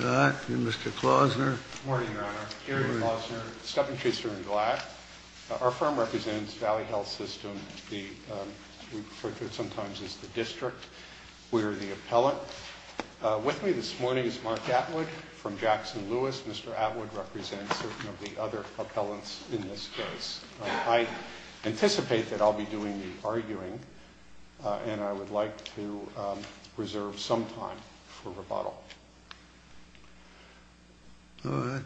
Hi, I'm Mr. Klausner. Good morning, Your Honor. Gary Klausner, step-in commissioner in GLAAD. Our firm represents Valley Health System. We refer to it sometimes as the district. We are the appellant. With me this morning is Mark Atwood from Jackson-Lewis. Mr. Atwood represents some of the other appellants in this case. I anticipate that I'll be doing the arguing, and I would like to reserve some time for rebuttal. All right.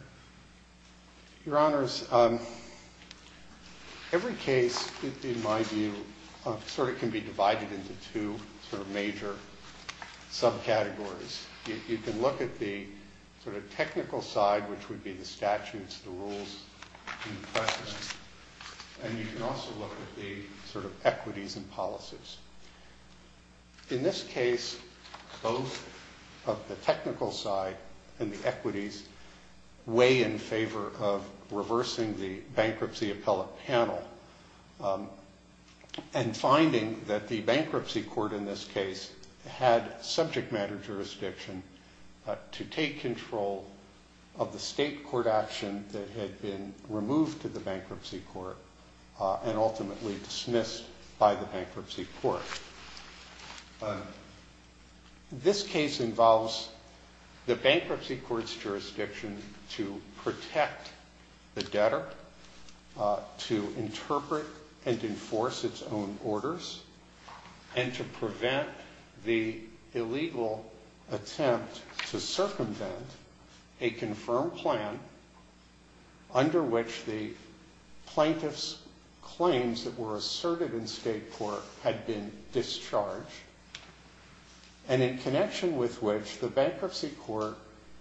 Your Honors, every case, in my view, sort of can be divided into two sort of major subcategories. You can look at the sort of technical side, which would be the statutes, the rules, and the practices. And you can also look at the sort of equities and policies. In this case, both of the technical side and the equities weigh in favor of reversing the bankruptcy appellate panel and finding that the bankruptcy court in this case had subject matter jurisdiction to take control of the state court action that had been removed to the bankruptcy court and ultimately dismissed by the bankruptcy court. This case involves the bankruptcy court's jurisdiction to protect the debtor, to interpret and enforce its own orders, and to prevent the illegal attempt to circumvent a confirmed plan under which the plaintiff's claims that were asserted in state court had been discharged, and in connection with which the bankruptcy court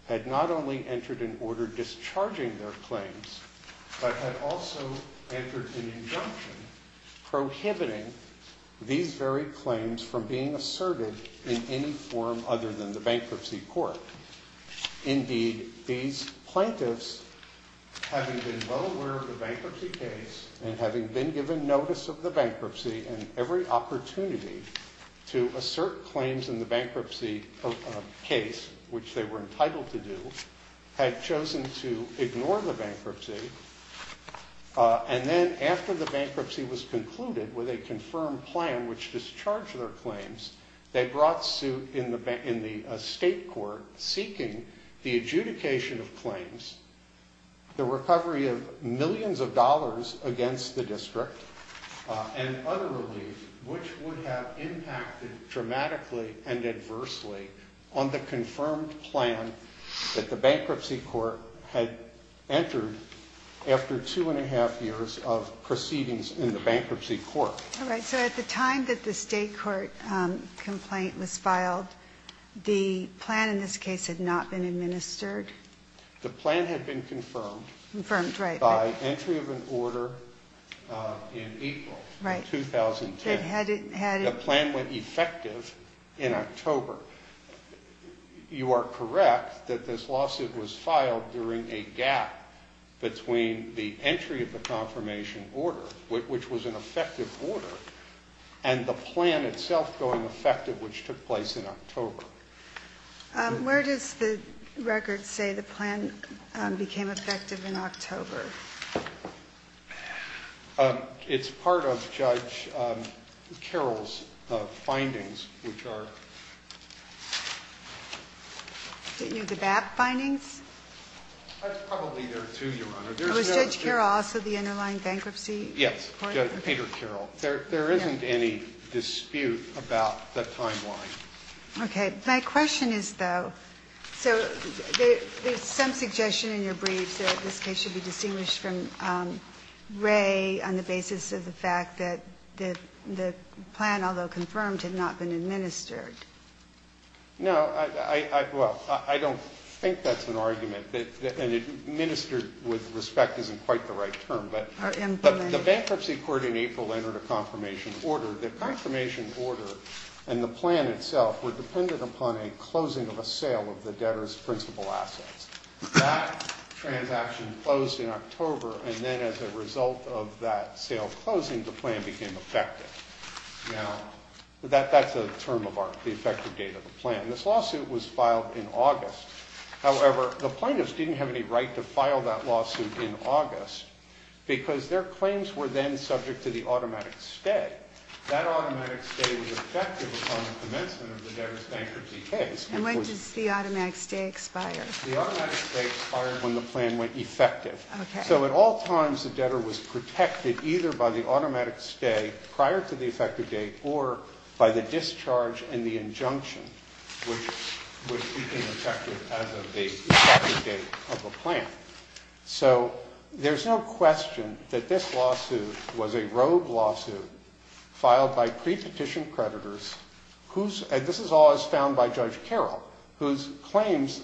had not only entered an order discharging their claims, but had also entered an injunction prohibiting these very claims from being asserted in any form other than the bankruptcy court. Indeed, these plaintiffs, having been well aware of the bankruptcy case and having been given notice of the bankruptcy and every opportunity to assert claims in the bankruptcy case, which they were entitled to do, had chosen to ignore the bankruptcy. And then after the bankruptcy was concluded with a confirmed plan which discharged their claims, they brought suit in the state court seeking the adjudication of claims, the recovery of millions of dollars against the district, and other relief, which would have impacted dramatically and adversely on the confirmed plan that the bankruptcy court had entered after two and a half years of proceedings in the bankruptcy court. All right. So at the time that the state court complaint was filed, the plan in this case had not been administered? The plan had been confirmed. Confirmed, right. By entry of an order in April of 2010. The plan went effective in October. You are correct that this lawsuit was filed during a gap between the entry of the confirmation order, which was an effective order, and the plan itself going effective, which took place in October. Where does the record say the plan became effective in October? It's part of Judge Carroll's findings, which are. The BAP findings? Was Judge Carroll also the underlying bankruptcy? Yes. Peter Carroll. There isn't any dispute about the timeline. Okay. My question is, though, so there's some suggestion in your briefs that this case should be distinguished from Ray on the basis of the fact that the plan, although confirmed, had not been administered. No. Well, I don't think that's an argument. And administered with respect isn't quite the right term. But the bankruptcy court in April entered a confirmation order. The confirmation order and the plan itself were dependent upon a closing of a sale of the debtor's principal assets. That transaction closed in October, and then as a result of that sale closing, the plan became effective. Now, that's the term of the effective date of the plan. This lawsuit was filed in August. However, the plaintiffs didn't have any right to file that lawsuit in August because their claims were then subject to the automatic stay. That automatic stay was effective upon the commencement of the debtor's bankruptcy case. And when does the automatic stay expire? The automatic stay expired when the plan went effective. Okay. So at all times, the debtor was protected either by the automatic stay prior to the effective date or by the discharge and the injunction. Which became effective as of the effective date of the plan. So there's no question that this lawsuit was a rogue lawsuit filed by pre-petition creditors, and this is all as found by Judge Carroll, whose claims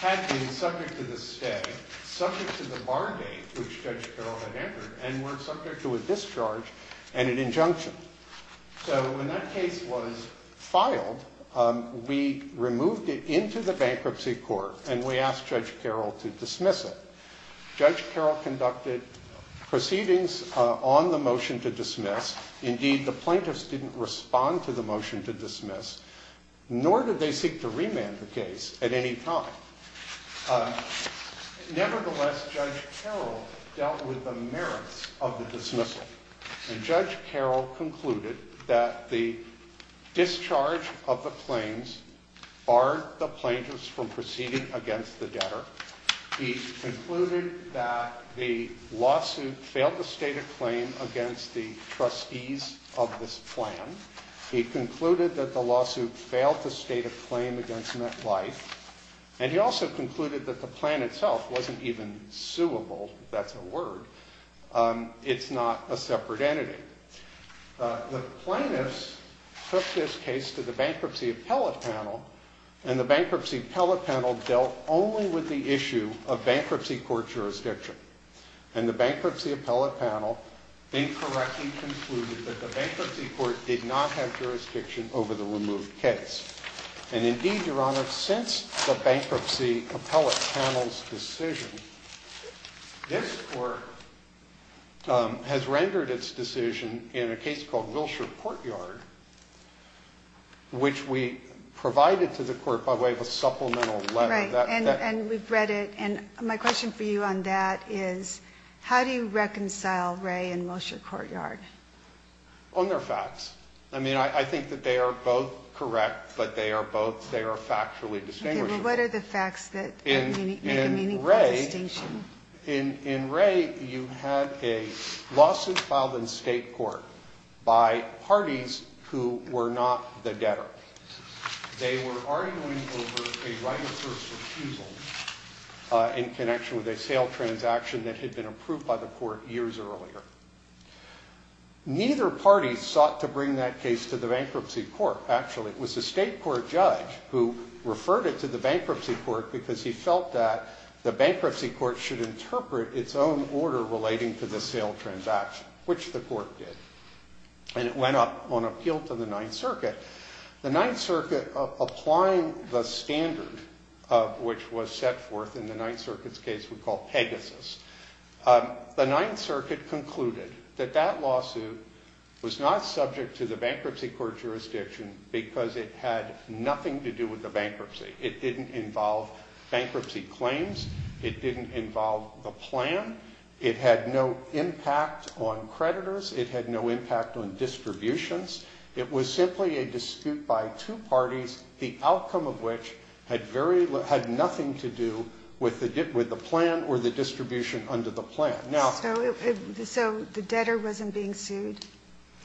had been subject to the stay, subject to the bar date which Judge Carroll had entered, and were subject to a discharge and an injunction. So when that case was filed, we removed it into the bankruptcy court and we asked Judge Carroll to dismiss it. Judge Carroll conducted proceedings on the motion to dismiss. Indeed, the plaintiffs didn't respond to the motion to dismiss, nor did they seek to remand the case at any time. Nevertheless, Judge Carroll dealt with the merits of the dismissal. And Judge Carroll concluded that the discharge of the claims barred the plaintiffs from proceeding against the debtor. He concluded that the lawsuit failed to state a claim against the trustees of this plan. He concluded that the lawsuit failed to state a claim against MetLife. And he also concluded that the plan itself wasn't even suable, if that's a word. It's not a separate entity. The plaintiffs took this case to the bankruptcy appellate panel, and the bankruptcy appellate panel dealt only with the issue of bankruptcy court jurisdiction. And the bankruptcy appellate panel incorrectly concluded that the bankruptcy court did not have jurisdiction over the removed case. And indeed, Your Honor, since the bankruptcy appellate panel's decision, this court has rendered its decision in a case called Wilshire Courtyard, which we provided to the court by way of a supplemental letter. And we've read it. And my question for you on that is, how do you reconcile Ray and Wilshire Courtyard? On their facts. I mean, I think that they are both correct, but they are factually distinguishable. Okay. Well, what are the facts that make a meaningful distinction? In Ray, you had a lawsuit filed in state court by parties who were not the debtor. They were arguing over a right of first refusal in connection with a sale transaction that had been approved by the court years earlier. Neither party sought to bring that case to the bankruptcy court, actually. It was the state court judge who referred it to the bankruptcy court because he felt that the bankruptcy court should interpret its own order relating to the sale transaction, which the court did. And it went up on appeal to the Ninth Circuit. The Ninth Circuit, applying the standard which was set forth in the Ninth Circuit's case we call Pegasus, the Ninth Circuit concluded that that lawsuit was not subject to the bankruptcy court jurisdiction because it had nothing to do with the bankruptcy. It didn't involve bankruptcy claims. It didn't involve the plan. It had no impact on creditors. It had no impact on distributions. It was simply a dispute by two parties, the outcome of which had very little, had nothing to do with the plan or the distribution under the plan. Now. So the debtor wasn't being sued?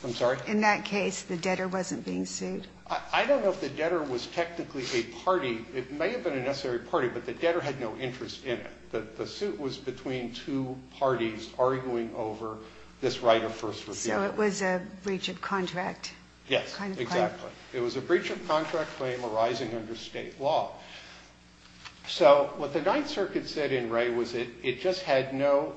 I'm sorry? In that case, the debtor wasn't being sued? I don't know if the debtor was technically a party. It may have been a necessary party, but the debtor had no interest in it. The suit was between two parties arguing over this right of first refusal. So it was a breach of contract? Yes, exactly. It was a breach of contract claim arising under state law. So what the Ninth Circuit said in Ray was it just had no,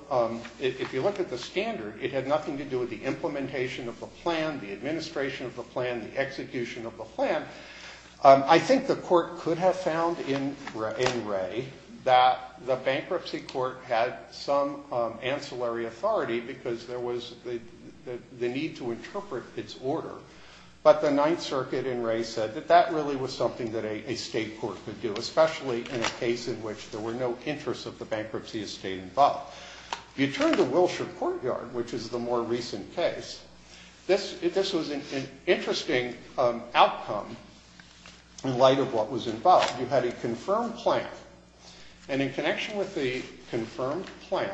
if you look at the standard, it had nothing to do with the implementation of the plan, the administration of the plan, the execution of the plan. I think the court could have found in Ray that the bankruptcy court had some ancillary authority because there was the need to interpret its order. But the Ninth Circuit in Ray said that that really was something that a state court could do, especially in a case in which there were no interests of the bankruptcy estate involved. You turn to Wilshire Courtyard, which is the more recent case. This was an interesting outcome in light of what was involved. You had a confirmed plan. And in connection with the confirmed plan,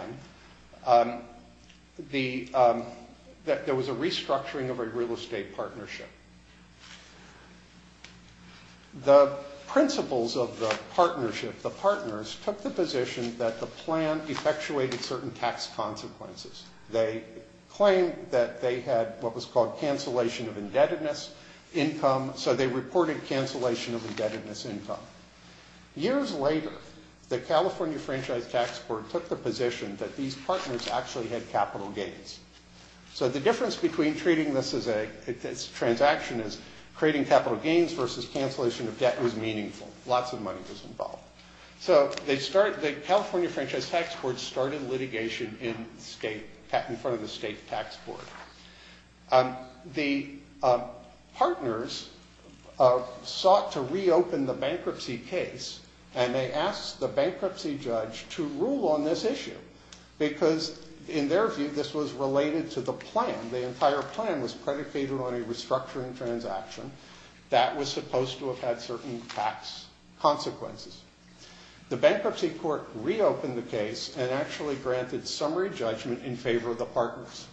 there was a restructuring of a real estate partnership. The principals of the partnership, the partners, took the position that the plan effectuated certain tax consequences. They claimed that they had what was called cancellation of indebtedness income, so they reported cancellation of indebtedness income. Years later, the California Franchise Tax Board took the position that these partners actually had capital gains. So the difference between treating this transaction as creating capital gains versus cancellation of debt was meaningful. Lots of money was involved. So the California Franchise Tax Board started litigation in front of the state tax board. The partners sought to reopen the bankruptcy case, and they asked the bankruptcy judge to rule on this issue, because in their view, this was related to the plan. The entire plan was predicated on a restructuring transaction that was supposed to have had certain tax consequences. The bankruptcy court reopened the case and actually granted summary judgment in favor of the partners.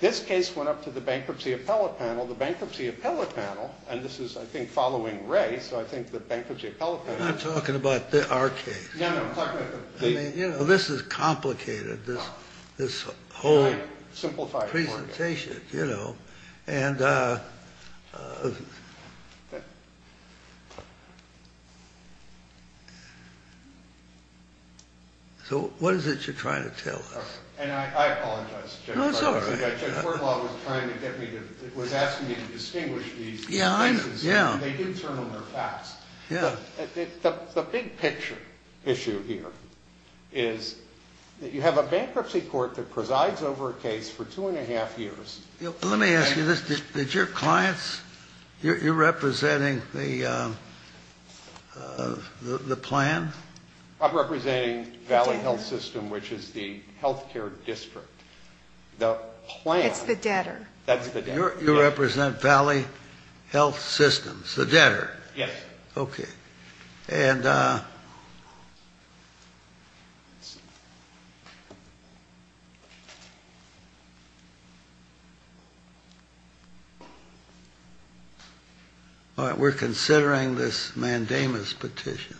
This case went up to the Bankruptcy Appellate Panel. The Bankruptcy Appellate Panel, and this is, I think, following Ray, so I think the Bankruptcy Appellate Panel... I'm not talking about our case. No, no, talk about the... I mean, you know, this is complicated, this whole... Can I simplify it for you? ...presentation, you know, and... So what is it you're trying to tell us? No, it's all right. Yeah, I know. Yeah. Let me ask you this. Did your clients... You're representing the plan? It's the debtor. That's the debtor. You represent Valley Health Systems, the debtor? Yes. Okay. And... All right, we're considering this mandamus petition.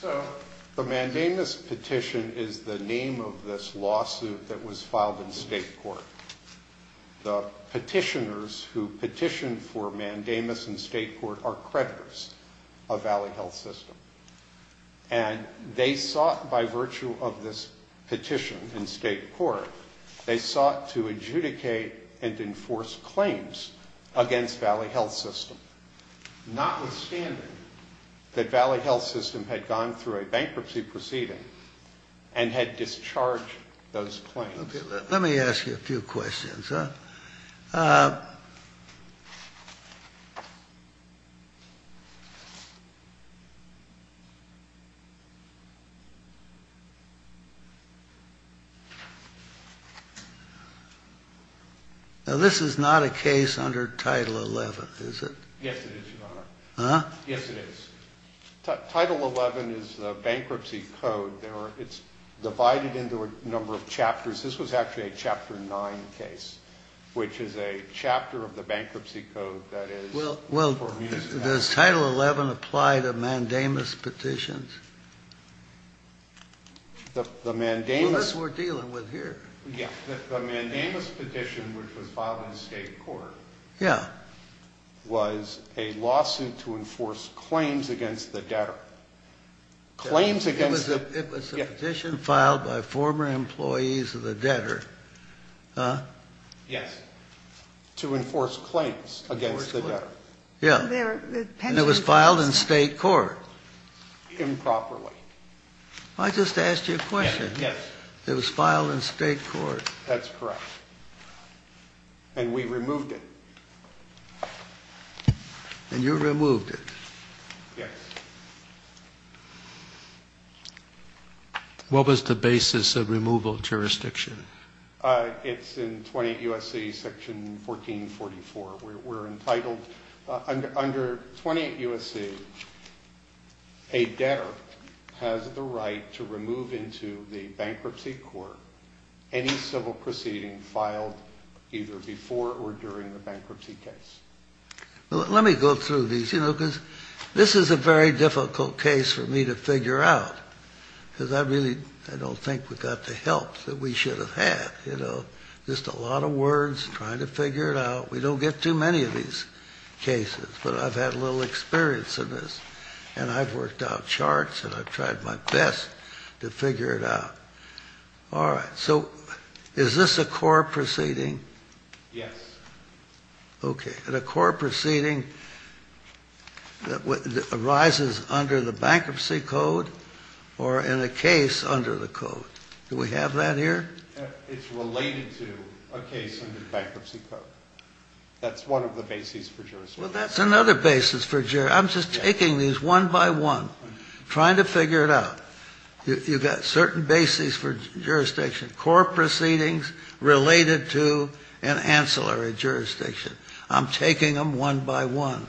So the mandamus petition is the name of this lawsuit that was filed in state court. The petitioners who petitioned for mandamus in state court are creditors of Valley Health System, and they sought, by virtue of this petition in state court, they sought to adjudicate and enforce claims against Valley Health System, notwithstanding that Valley Health System had gone through a bankruptcy proceeding and had discharged those claims. Let me ask you a few questions. Now, this is not a case under Title XI, is it? Yes, it is, Your Honor. Huh? Yes, it is. Title XI is the bankruptcy code. It's divided into a number of chapters. Chapter 9. Chapter 9. Chapter 9. Chapter 9. Chapter 9. Chapter 9. Which is a chapter of the bankruptcy code that is... Well, does Title XI apply to mandamus petitions? The mandamus... Well, that's what we're dealing with here. Yeah. The mandamus petition, which was filed in state court... Yeah. ...was a lawsuit to enforce claims against the debtor. Claims against the... It was a petition filed by former employees of the debtor. Huh? Yes. To enforce claims against the debtor. Yeah. And it was filed in state court. Improperly. I just asked you a question. Yes. It was filed in state court. That's correct. And we removed it. And you removed it. Yes. What was the basis of removal of jurisdiction? It's in 28 U.S.C. Section 1444. We're entitled... Under 28 U.S.C., a debtor has the right to remove into the bankruptcy court any civil proceeding filed either before or during the bankruptcy case. Let me go through these, you know, because this is a very difficult case for me to figure out. Because I really, I don't think we got the help that we should have had, you know. Just a lot of words, trying to figure it out. We don't get too many of these cases, but I've had a little experience in this. And I've worked out charts, and I've tried my best to figure it out. All right. So, is this a core proceeding? Yes. Okay. Is it a core proceeding that arises under the bankruptcy code or in a case under the code? Do we have that here? It's related to a case under the bankruptcy code. That's one of the bases for jurisdiction. Well, that's another basis for jurisdiction. I'm just taking these one by one, trying to figure it out. You've got certain bases for jurisdiction. Core proceedings related to an ancillary jurisdiction. I'm taking them one by one.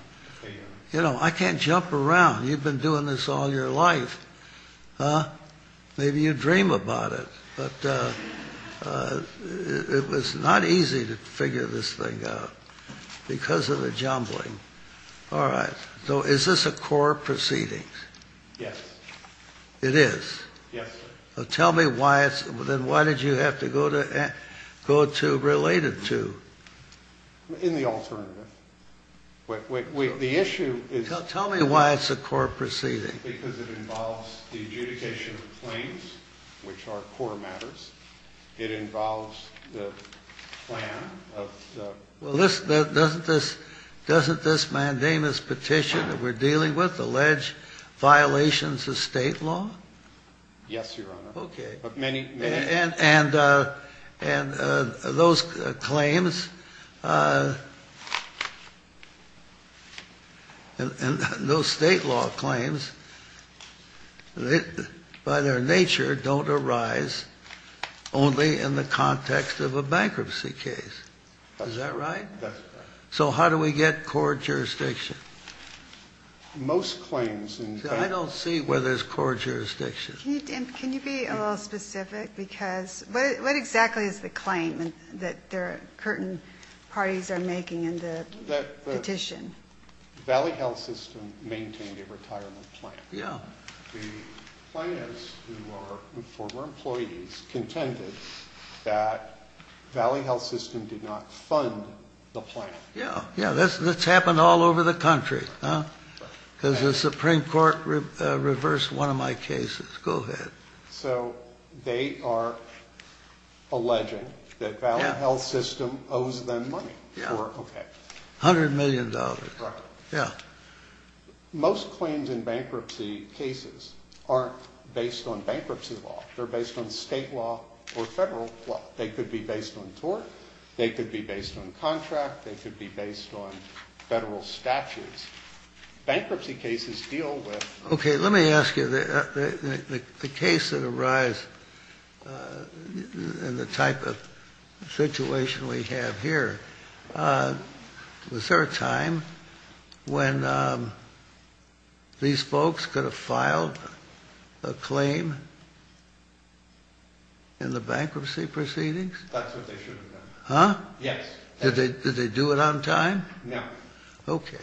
You know, I can't jump around. You've been doing this all your life. Huh? Maybe you dream about it. But it was not easy to figure this thing out because of the jumbling. All right. So, is this a core proceeding? Yes. It is? Yes, sir. Tell me why it's, then why did you have to go to related to? In the alternative. The issue is. Tell me why it's a core proceeding. Because it involves the adjudication of claims, which are core matters. It involves the plan of the. Well, doesn't this mandamus petition that we're dealing with allege violations of state law? Yes, Your Honor. Okay. And those claims. And those state law claims, by their nature, don't arise only in the context of a bankruptcy case. Is that right? That's right. So how do we get core jurisdiction? Most claims. I don't see where there's core jurisdiction. Can you be a little specific? Because what exactly is the claim that the Curtin parties are making in the petition? That the Valley Health System maintained a retirement plan. Yeah. The plaintiffs, who are former employees, contended that Valley Health System did not fund the plan. Yeah, that's happened all over the country. Because the Supreme Court reversed one of my cases. Go ahead. So they are alleging that Valley Health System owes them money. Yeah. Okay. $100 million. Correct. Yeah. Most claims in bankruptcy cases aren't based on bankruptcy law. They're based on state law or federal law. They could be based on tort. They could be based on contract. They could be based on federal statutes. Bankruptcy cases deal with. Okay. Let me ask you. The case that arises and the type of situation we have here. Was there a time when these folks could have filed a claim in the bankruptcy proceedings? That's what they should have done. Huh? Yes. Did they do it on time? No. Okay.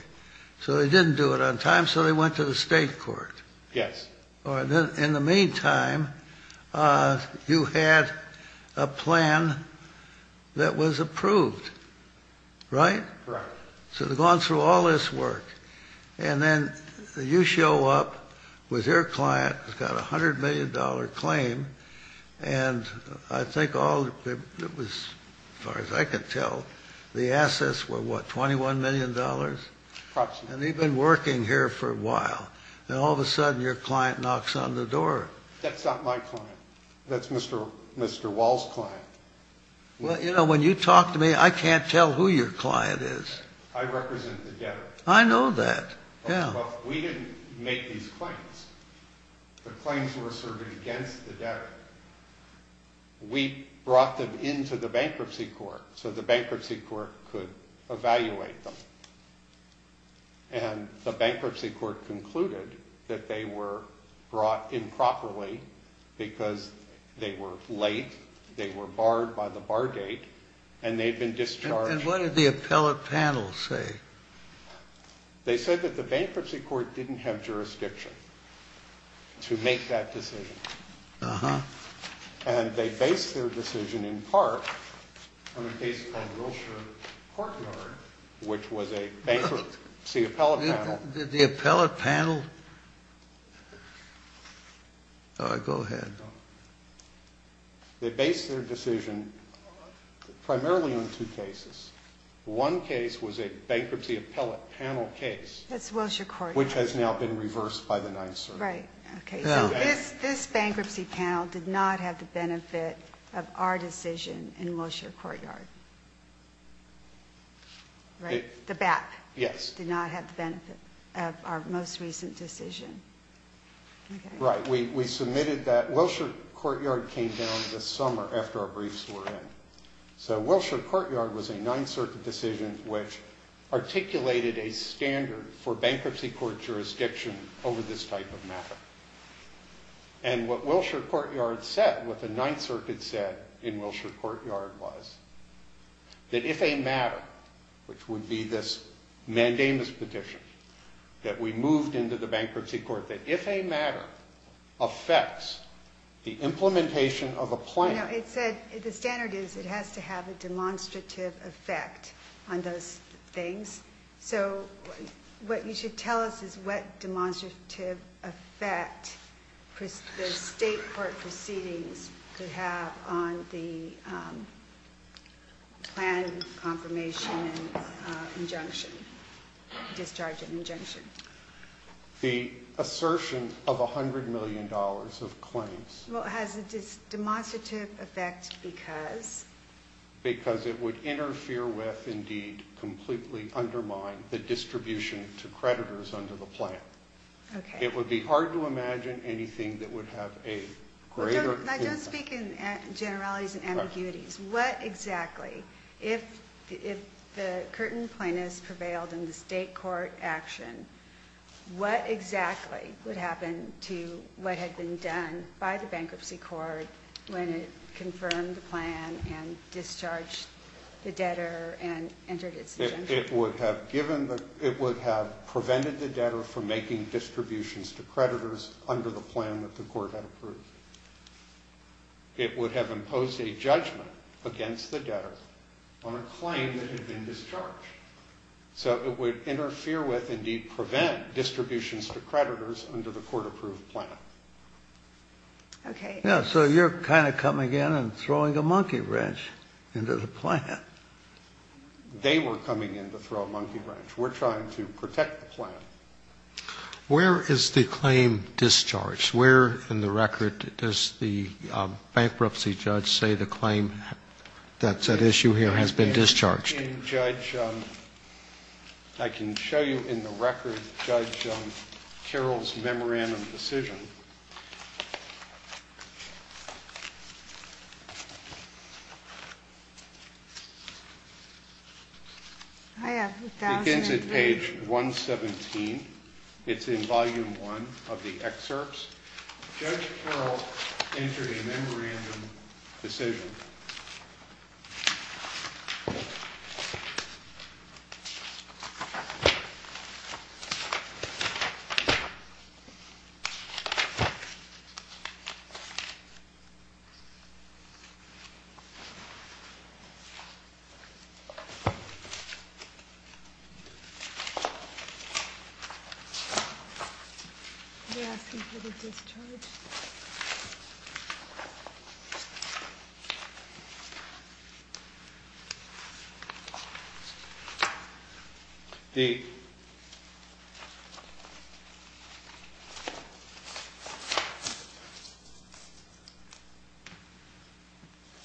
So they didn't do it on time, so they went to the state court. Yes. In the meantime, you had a plan that was approved. Right? Correct. So they've gone through all this work. And then you show up with your client who's got a $100 million claim. And I think all it was, as far as I could tell, the assets were what, $21 million? Approximately. And they've been working here for a while. And all of a sudden, your client knocks on the door. That's not my client. That's Mr. Wall's client. Well, you know, when you talk to me, I can't tell who your client is. I represent the debtor. I know that. Yeah. Well, we didn't make these claims. The claims were served against the debtor. We brought them into the bankruptcy court so the bankruptcy court could evaluate them. And the bankruptcy court concluded that they were brought improperly because they were late, they were barred by the bar gate, and they'd been discharged. And what did the appellate panel say? They said that the bankruptcy court didn't have jurisdiction to make that decision. Uh-huh. And they based their decision, in part, on a case called Wilshire Courtyard, which was a bankruptcy appellate panel. Did the appellate panel? Go ahead. They based their decision primarily on two cases. One case was a bankruptcy appellate panel case. That's Wilshire Courtyard. Which has now been reversed by the Ninth Circuit. Right. Okay. So this bankruptcy panel did not have the benefit of our decision in Wilshire Courtyard. Right? The BAP. Yes. Did not have the benefit of our most recent decision. Okay. Right. We submitted that. Wilshire Courtyard came down this summer after our briefs were in. So Wilshire Courtyard was a Ninth Circuit decision, which articulated a standard for bankruptcy court jurisdiction over this type of matter. And what Wilshire Courtyard said, what the Ninth Circuit said in Wilshire Courtyard, was that if a matter, which would be this mandamus petition, that we moved into the bankruptcy court, that if a matter affects the implementation of a plan. The standard is it has to have a demonstrative effect on those things. So what you should tell us is what demonstrative effect the state court proceedings could have on the plan confirmation and injunction, discharge and injunction. The assertion of $100 million of claims. Well, it has a demonstrative effect because? Because it would interfere with, indeed, completely undermine the distribution to creditors under the plan. Okay. It would be hard to imagine anything that would have a greater impact. Don't speak in generalities and ambiguities. What exactly, if the Curtin plaintiffs prevailed in the state court action, what exactly would happen to what had been done by the bankruptcy court when it confirmed the plan and discharged the debtor and entered its injunction? It would have prevented the debtor from making distributions to creditors under the plan that the court had approved. It would have imposed a judgment against the debtor on a claim that had been discharged. So it would interfere with, indeed, prevent distributions to creditors under the court-approved plan. Okay. Yeah, so you're kind of coming in and throwing a monkey wrench into the plan. They were coming in to throw a monkey wrench. We're trying to protect the plan. Where is the claim discharged? Where in the record does the bankruptcy judge say the claim that's at issue here has been discharged? I can show you in the record Judge Carroll's memorandum decision. It begins at page 117. It's in volume one of the excerpts. Judge Carroll entered a memorandum decision. Okay. They're asking for the discharge.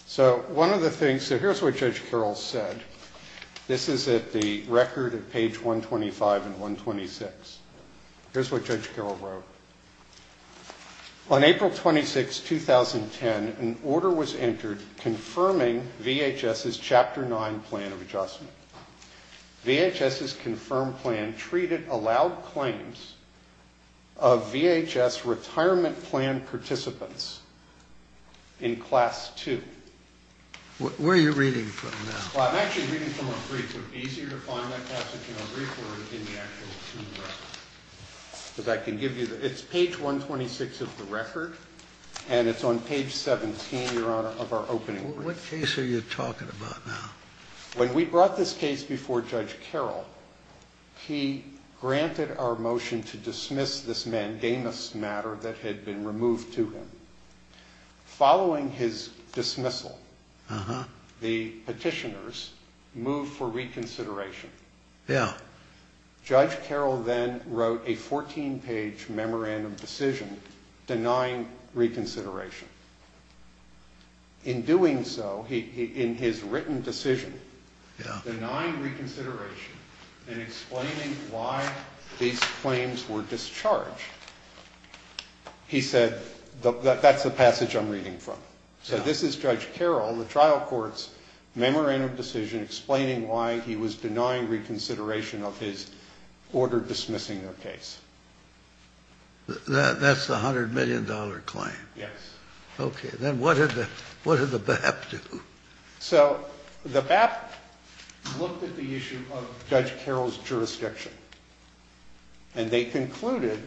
So one of the things, so here's what Judge Carroll said. This is at the record at page 125 and 126. Here's what Judge Carroll wrote. On April 26, 2010, an order was entered confirming VHS's Chapter 9 plan of adjustment. VHS's confirmed plan treated allowed claims of VHS retirement plan participants in Class 2. Where are you reading from now? Well, I'm actually reading from a brief. It would be easier to find that passage in a brief or in the actual team record. Because I can give you, it's page 126 of the record, and it's on page 17, Your Honor, of our opening brief. What case are you talking about now? When we brought this case before Judge Carroll, he granted our motion to dismiss this mandamus matter that had been removed to him. Following his dismissal, the petitioners moved for reconsideration. Yeah. Judge Carroll then wrote a 14-page memorandum decision denying reconsideration. In doing so, in his written decision denying reconsideration and explaining why these claims were discharged, he said, that's the passage I'm reading from. So this is Judge Carroll, the trial court's memorandum decision explaining why he was denying reconsideration of his order dismissing the case. That's the $100 million claim? Yes. Okay. Then what did the BAP do? So the BAP looked at the issue of Judge Carroll's jurisdiction. And they concluded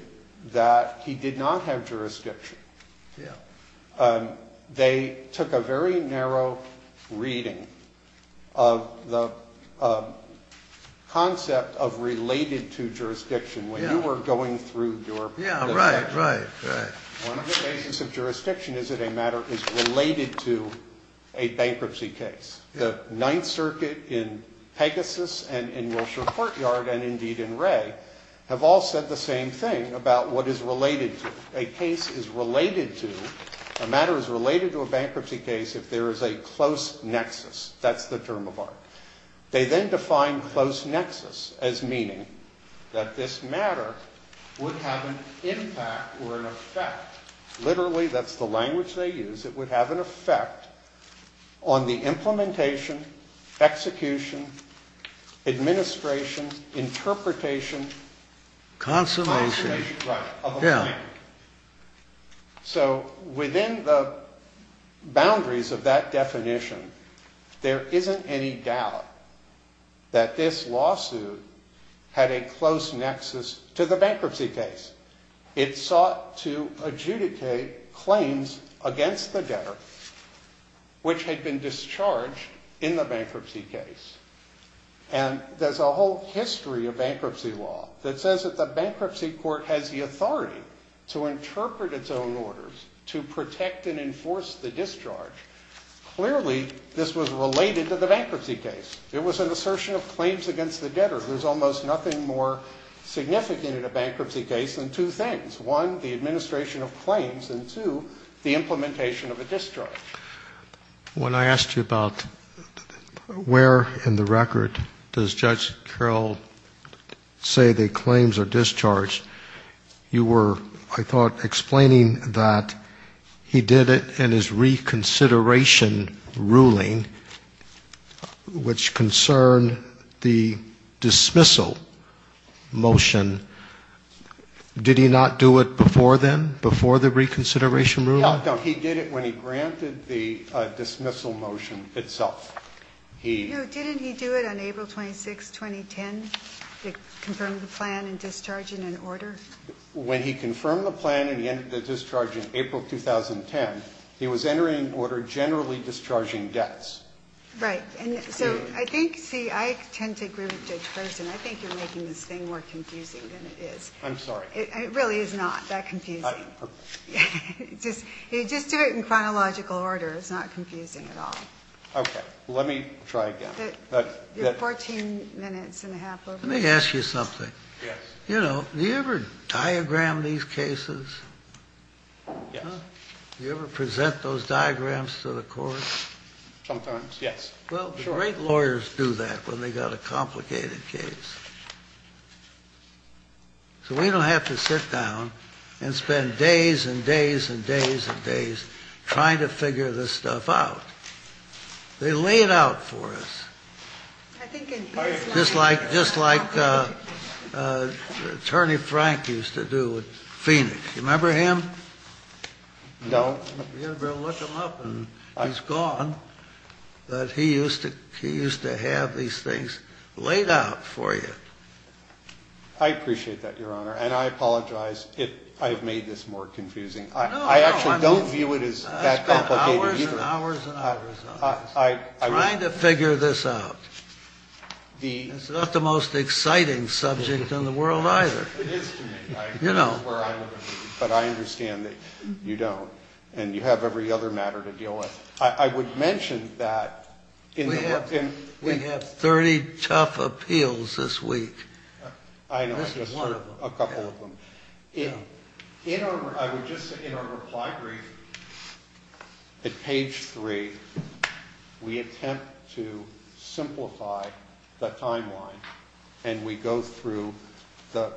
that he did not have jurisdiction. Yeah. They took a very narrow reading of the concept of related to jurisdiction when you were going through your... Yeah, right, right, right. One of the basis of jurisdiction is that a matter is related to a bankruptcy case. The Ninth Circuit in Pegasus and in Wilshire Courtyard and indeed in Ray have all said the same thing about what is related to. A case is related to, a matter is related to a bankruptcy case if there is a close nexus. That's the term of art. They then defined close nexus as meaning that this matter would have an impact or an effect, literally that's the language they use, it would have an effect on the implementation, execution, administration, interpretation. Consolation. Right. Yeah. So within the boundaries of that definition there isn't any doubt that this lawsuit had a close nexus to the bankruptcy case. It sought to adjudicate claims against the debtor which had been discharged in the bankruptcy case. And there's a whole history of bankruptcy law that says that the bankruptcy court has the authority to interpret its own orders, to protect and enforce the discharge. Clearly this was related to the bankruptcy case. It was an assertion of claims against the debtor. There's almost nothing more significant in a bankruptcy case than two things. One, the administration of claims, and two, the implementation of a discharge. When I asked you about where in the record does Judge Carroll say the claims are discharged, you were, I thought, explaining that he did it in his reconsideration ruling which concerned the dismissal motion. Did he not do it before then, before the reconsideration ruling? No, no. He did it when he granted the dismissal motion itself. He didn't he do it on April 26, 2010? He confirmed the plan and discharged it in order? When he confirmed the plan and he ended the discharge in April 2010, he was entering in order generally discharging debts. Right. And so I think, see, I tend to agree with Judge Person. I think you're making this thing more confusing than it is. I'm sorry. It really is not that confusing. Just do it in chronological order. It's not confusing at all. Okay. Let me try again. You're 14 minutes and a half over. Let me ask you something. Yes. You know, do you ever diagram these cases? Yes. Do you ever present those diagrams to the courts? Sometimes, yes. Well, the great lawyers do that when they've got a complicated case. So we don't have to sit down and spend days and days and days and days trying to figure this stuff out. They lay it out for us. I think in his life. Just like Attorney Frank used to do with Phoenix. Do you remember him? No. You'd better look him up. He's gone. But he used to have these things laid out for you. I appreciate that, Your Honor. And I apologize if I have made this more confusing. No, no. I actually don't view it as that complicated either. I spent hours and hours and hours trying to figure this out. It's not the most exciting subject in the world either. It is to me. But I understand that you don't. And you have every other matter to deal with. I would mention that. We have 30 tough appeals this week. I know. Just one of them. A couple of them. I would just say in our reply brief at page 3, we attempt to simplify the timeline. And we go through the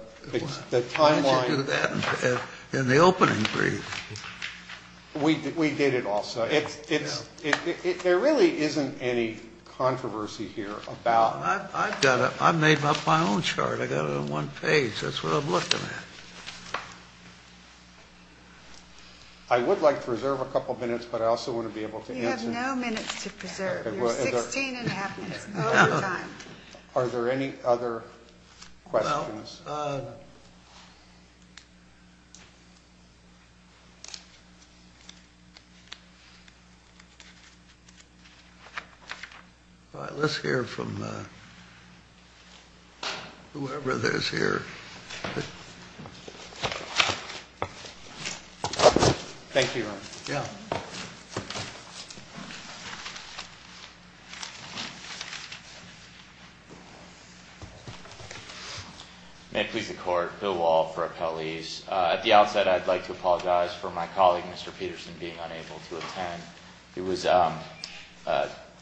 timeline. Why did you do that in the opening brief? We did it also. There really isn't any controversy here about. I've made up my own chart. I've got it on one page. That's what I'm looking at. I would like to reserve a couple of minutes, but I also want to be able to answer. You have no minutes to preserve. You have 16 and a half minutes of your time. Are there any other questions? All right. Let's hear from whoever is here. Thank you. May it please the court. Bill Wall for appellees. At the outset, I'd like to apologize for my colleague, Mr. Peterson, being unable to attend. He was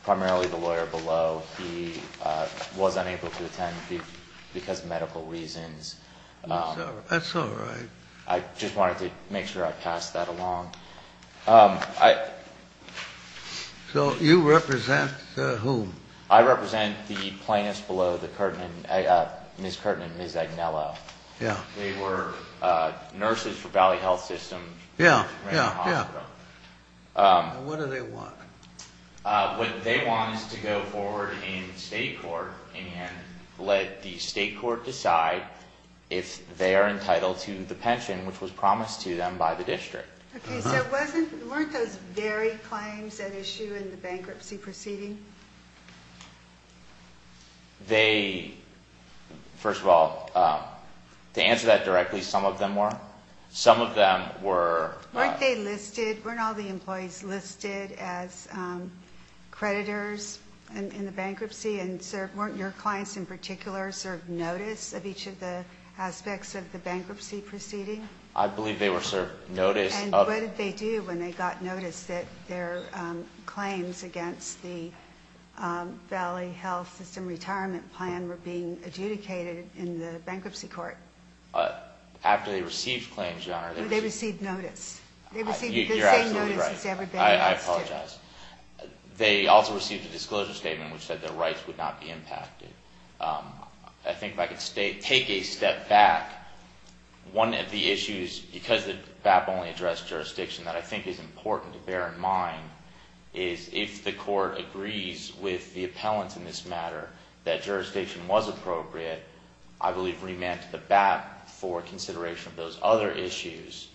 primarily the lawyer below. He was unable to attend because of medical reasons. That's all right. I just wanted to make sure I passed that along. So you represent whom? I represent the plaintiffs below, Ms. Kirtland and Ms. Agnello. They were nurses for Valley Health System. Yeah, yeah, yeah. What do they want? What they want is to go forward in state court and let the state court decide if they are entitled to the pension, which was promised to them by the district. Okay, so weren't those very claims at issue in the bankruptcy proceeding? They, first of all, to answer that directly, some of them were. Some of them were. Weren't they listed, weren't all the employees listed as creditors in the bankruptcy and weren't your clients in particular served notice of each of the aspects of the bankruptcy proceeding? I believe they were served notice of it. And what did they do when they got notice that their claims against the Valley Health System retirement plan were being adjudicated in the bankruptcy court? After they received claims, Your Honor. They received notice. They received the same notice as everybody else did. You're absolutely right. I apologize. They also received a disclosure statement which said their rights would not be impacted. I think if I could take a step back, one of the issues, because the BAP only addressed jurisdiction, that I think is important to bear in mind is if the court agrees with the appellants in this matter that jurisdiction was appropriate, I believe remand to the BAP for consideration of those other issues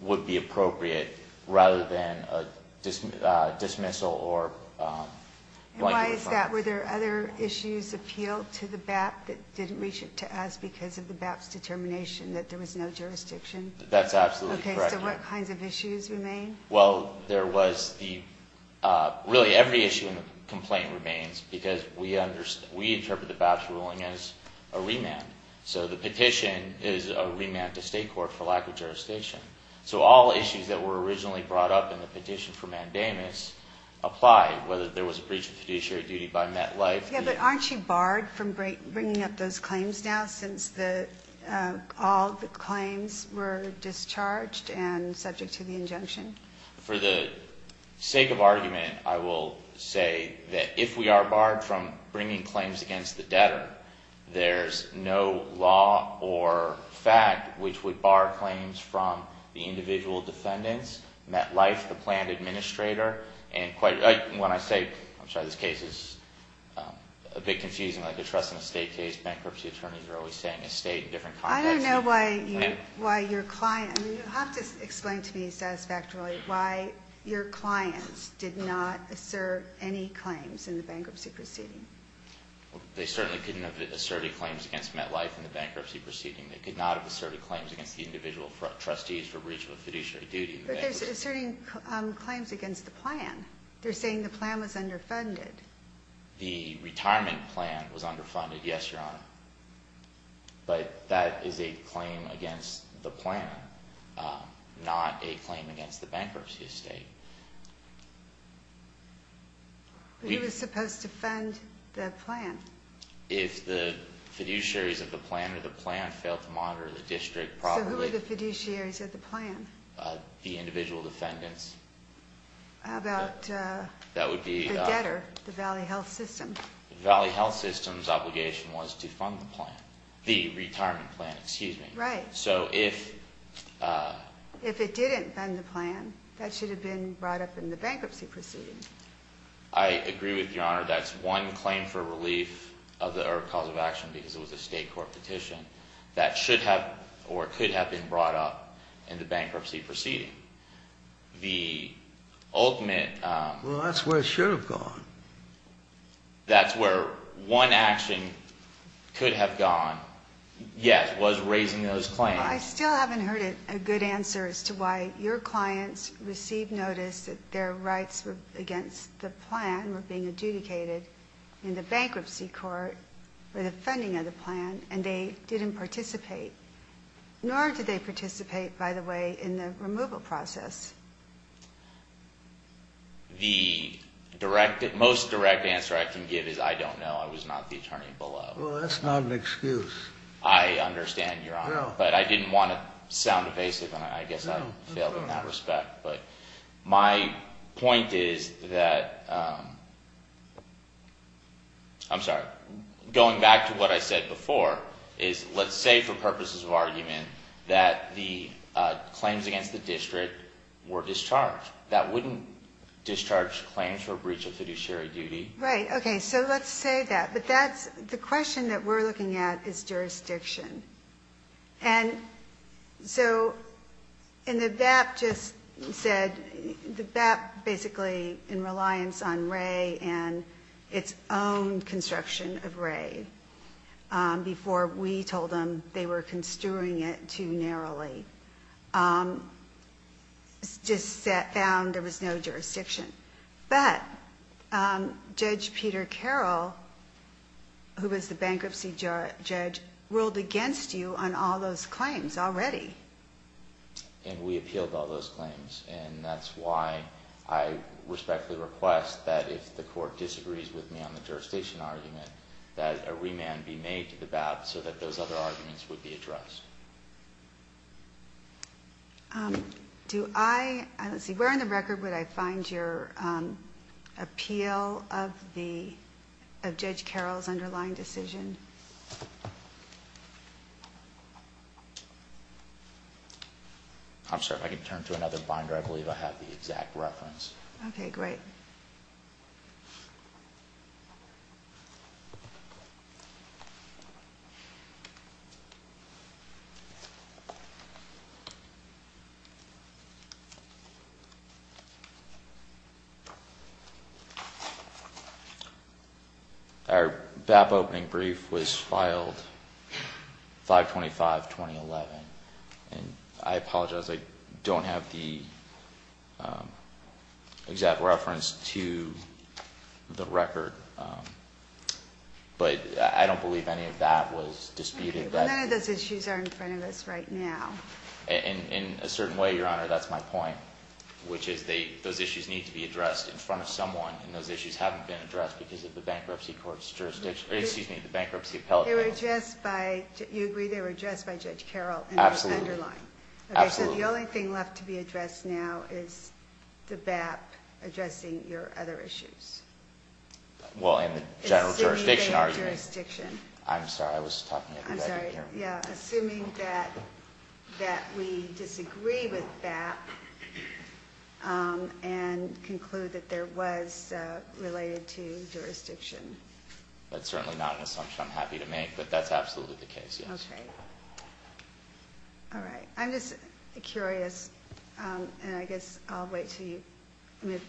would be appropriate rather than a dismissal or blanking of funds. And why is that? Were there other issues appealed to the BAP that didn't reach to us because of the BAP's determination that there was no jurisdiction? That's absolutely correct, Your Honor. Okay. So what kinds of issues remain? Well, there was the really every issue in the complaint remains because we interpret the BAP's ruling as a remand. So the petition is a remand to state court for lack of jurisdiction. So all issues that were originally brought up in the petition for mandamus apply, whether there was a breach of fiduciary duty by MetLife. Yeah, but aren't you barred from bringing up those claims now since all the claims were discharged and subject to the injunction? For the sake of argument, I will say that if we are barred from bringing claims against the debtor, there's no law or fact which would bar claims from the individual defendants, MetLife, the planned administrator. And when I say, I'm sorry, this case is a bit confusing like a trust and estate case. Bankruptcy attorneys are always saying estate in different contexts. I don't know why your client, I mean, you'll have to explain to me satisfactorily why your clients did not assert any claims in the bankruptcy proceeding. They certainly couldn't have asserted claims against MetLife in the bankruptcy proceeding. They could not have asserted claims against the individual trustees for breach of a fiduciary duty. But they're asserting claims against the plan. They're saying the plan was underfunded. The retirement plan was underfunded, yes, Your Honor. But that is a claim against the plan, not a claim against the bankruptcy estate. Who was supposed to fund the plan? If the fiduciaries of the plan or the plan failed to monitor the district properly. So who were the fiduciaries of the plan? The individual defendants. How about the debtor, the Valley Health System? The Valley Health System's obligation was to fund the plan. The retirement plan, excuse me. Right. So if... If it didn't fund the plan, that should have been brought up in the bankruptcy proceeding. I agree with you, Your Honor. That's one claim for relief of the cause of action because it was a state court petition. That should have or could have been brought up in the bankruptcy proceeding. The ultimate... Well, that's where it should have gone. That's where one action could have gone, yes, was raising those claims. I still haven't heard a good answer as to why your clients received notice that their rights against the plan were being adjudicated in the bankruptcy court for the funding of the plan, and they didn't participate. Nor did they participate, by the way, in the removal process. The most direct answer I can give is I don't know. I was not the attorney below. Well, that's not an excuse. I understand, Your Honor. No. But I didn't want to sound evasive, and I guess I failed in that respect. But my point is that... I'm sorry. Going back to what I said before is let's say for purposes of argument that the claims against the district were discharged. That wouldn't discharge claims for a breach of fiduciary duty. Right. Okay. So let's say that. But the question that we're looking at is jurisdiction. And so and the BAP just said... The BAP basically in reliance on Wray and its own construction of Wray before we told them they were construing it too narrowly, just found there was no jurisdiction. But Judge Peter Carroll, who was the bankruptcy judge, ruled against you on all those claims already. And we appealed all those claims, and that's why I respectfully request that if the court disagrees with me on the jurisdiction argument, that a remand be made to the BAP so that those other arguments would be addressed. Do I... Let's see. Where on the record would I find your appeal of Judge Carroll's underlying decision? I'm sorry. If I could turn to another binder, I believe I have the exact reference. Okay. Great. Thank you. Our BAP opening brief was filed 5-25-2011. And I apologize. I don't have the exact reference to the record. But I don't believe any of that was disputed. None of those issues are in front of us right now. In a certain way, Your Honor, that's my point, which is those issues need to be addressed in front of someone, and those issues haven't been addressed because of the bankruptcy court's jurisdiction... Excuse me, the bankruptcy appellate. They were addressed by... You agree they were addressed by Judge Carroll. Absolutely. In his underlying. Absolutely. So the only thing left to be addressed now is the BAP addressing your other issues. Well, in the general jurisdiction argument. Assuming it's in your jurisdiction. I'm sorry. I was talking at the beginning. I'm sorry. Yeah. Assuming that we disagree with BAP and conclude that there was related to jurisdiction. That's certainly not an assumption. I'm happy to make, but that's absolutely the case, yes. Okay. All right. I'm just curious, and I guess I'll wait until you move...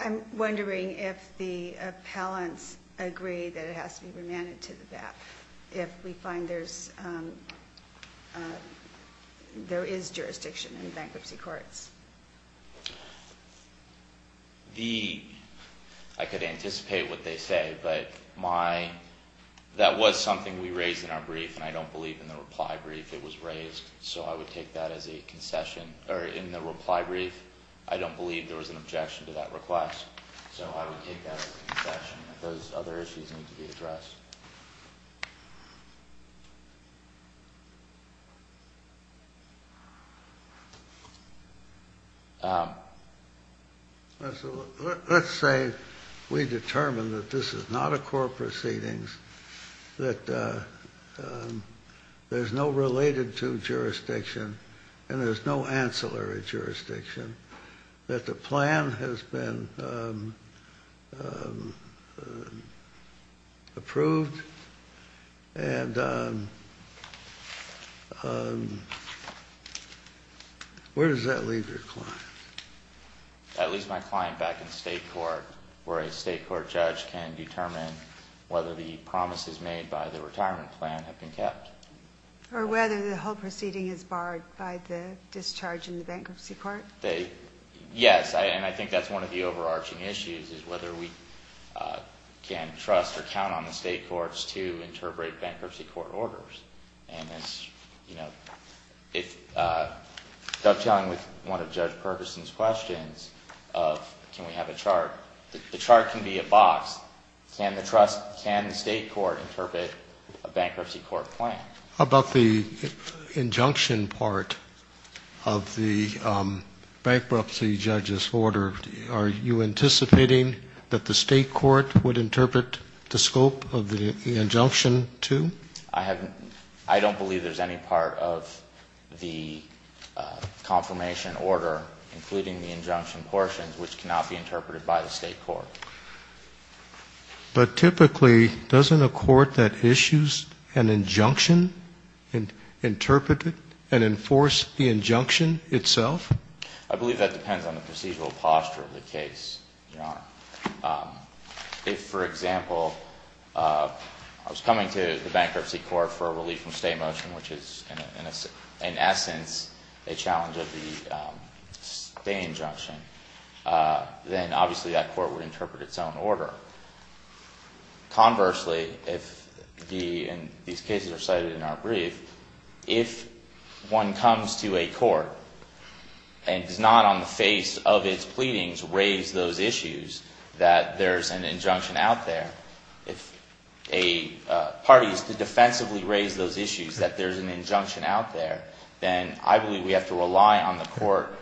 I'm wondering if the appellants agree that it has to be remanded to the BAP, if we find there is jurisdiction in bankruptcy courts. I could anticipate what they say, but that was something we raised in our brief, and I don't believe in the reply brief it was raised. So I would take that as a concession. Or in the reply brief, I don't believe there was an objection to that request, so I would take that as a concession. Those other issues need to be addressed. Let's say we determine that this is not a court proceedings, that there's no related to jurisdiction, and there's no ancillary jurisdiction, that the plan has been approved. Where does that leave your client? That leaves my client back in state court, where a state court judge can determine whether the promises made by the retirement plan have been kept. Or whether the whole proceeding is barred by the discharge in the bankruptcy court? Yes, and I think that's one of the overarching issues, is whether we can trust or count on the state courts to interpret bankruptcy court orders. Dovetailing with one of Judge Perguson's questions of can we have a chart, the chart can be a box. Can the state court interpret a bankruptcy court plan? How about the injunction part of the bankruptcy judge's order? Are you anticipating that the state court would interpret the scope of the injunction too? I don't believe there's any part of the confirmation order, including the injunction portions, which cannot be interpreted by the state court. But typically, doesn't a court that issues an injunction interpret it and enforce the injunction itself? I believe that depends on the procedural posture of the case, Your Honor. If, for example, I was coming to the bankruptcy court for a relief from state motion, which is in essence a challenge of the state injunction, then obviously that court would interpret its own order. Conversely, and these cases are cited in our brief, if one comes to a court and does not on the face of its pleadings raise those issues, that there's an injunction out there, if a party is to defensively raise those issues, that there's an injunction out there, then I believe we have to rely on the court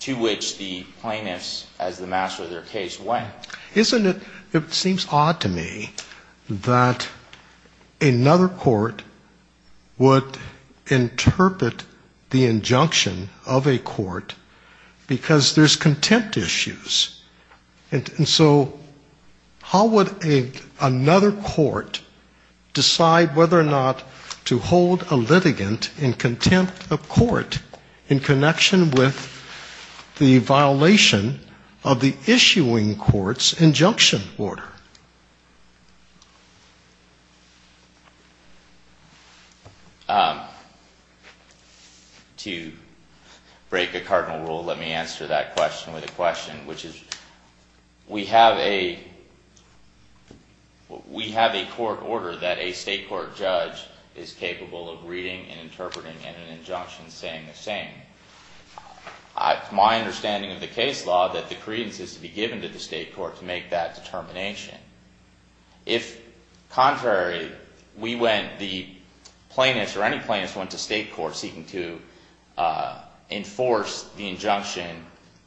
to which the plaintiffs, as the master of their case, went. Isn't it? It seems odd to me that another court would interpret the injunction of a court because there's contempt issues. And so how would another court decide whether or not to hold a litigant in contempt of court in connection with the violation of the issuing court's injunction order? To break a cardinal rule, let me answer that question with a question, which is we have a court order that a state court judge is capable of reading and interpreting and an injunction saying the same. It's my understanding of the case law that the credence is to be given to the state court to make that determination. If contrary, the plaintiffs or any plaintiffs went to state court seeking to enforce the injunction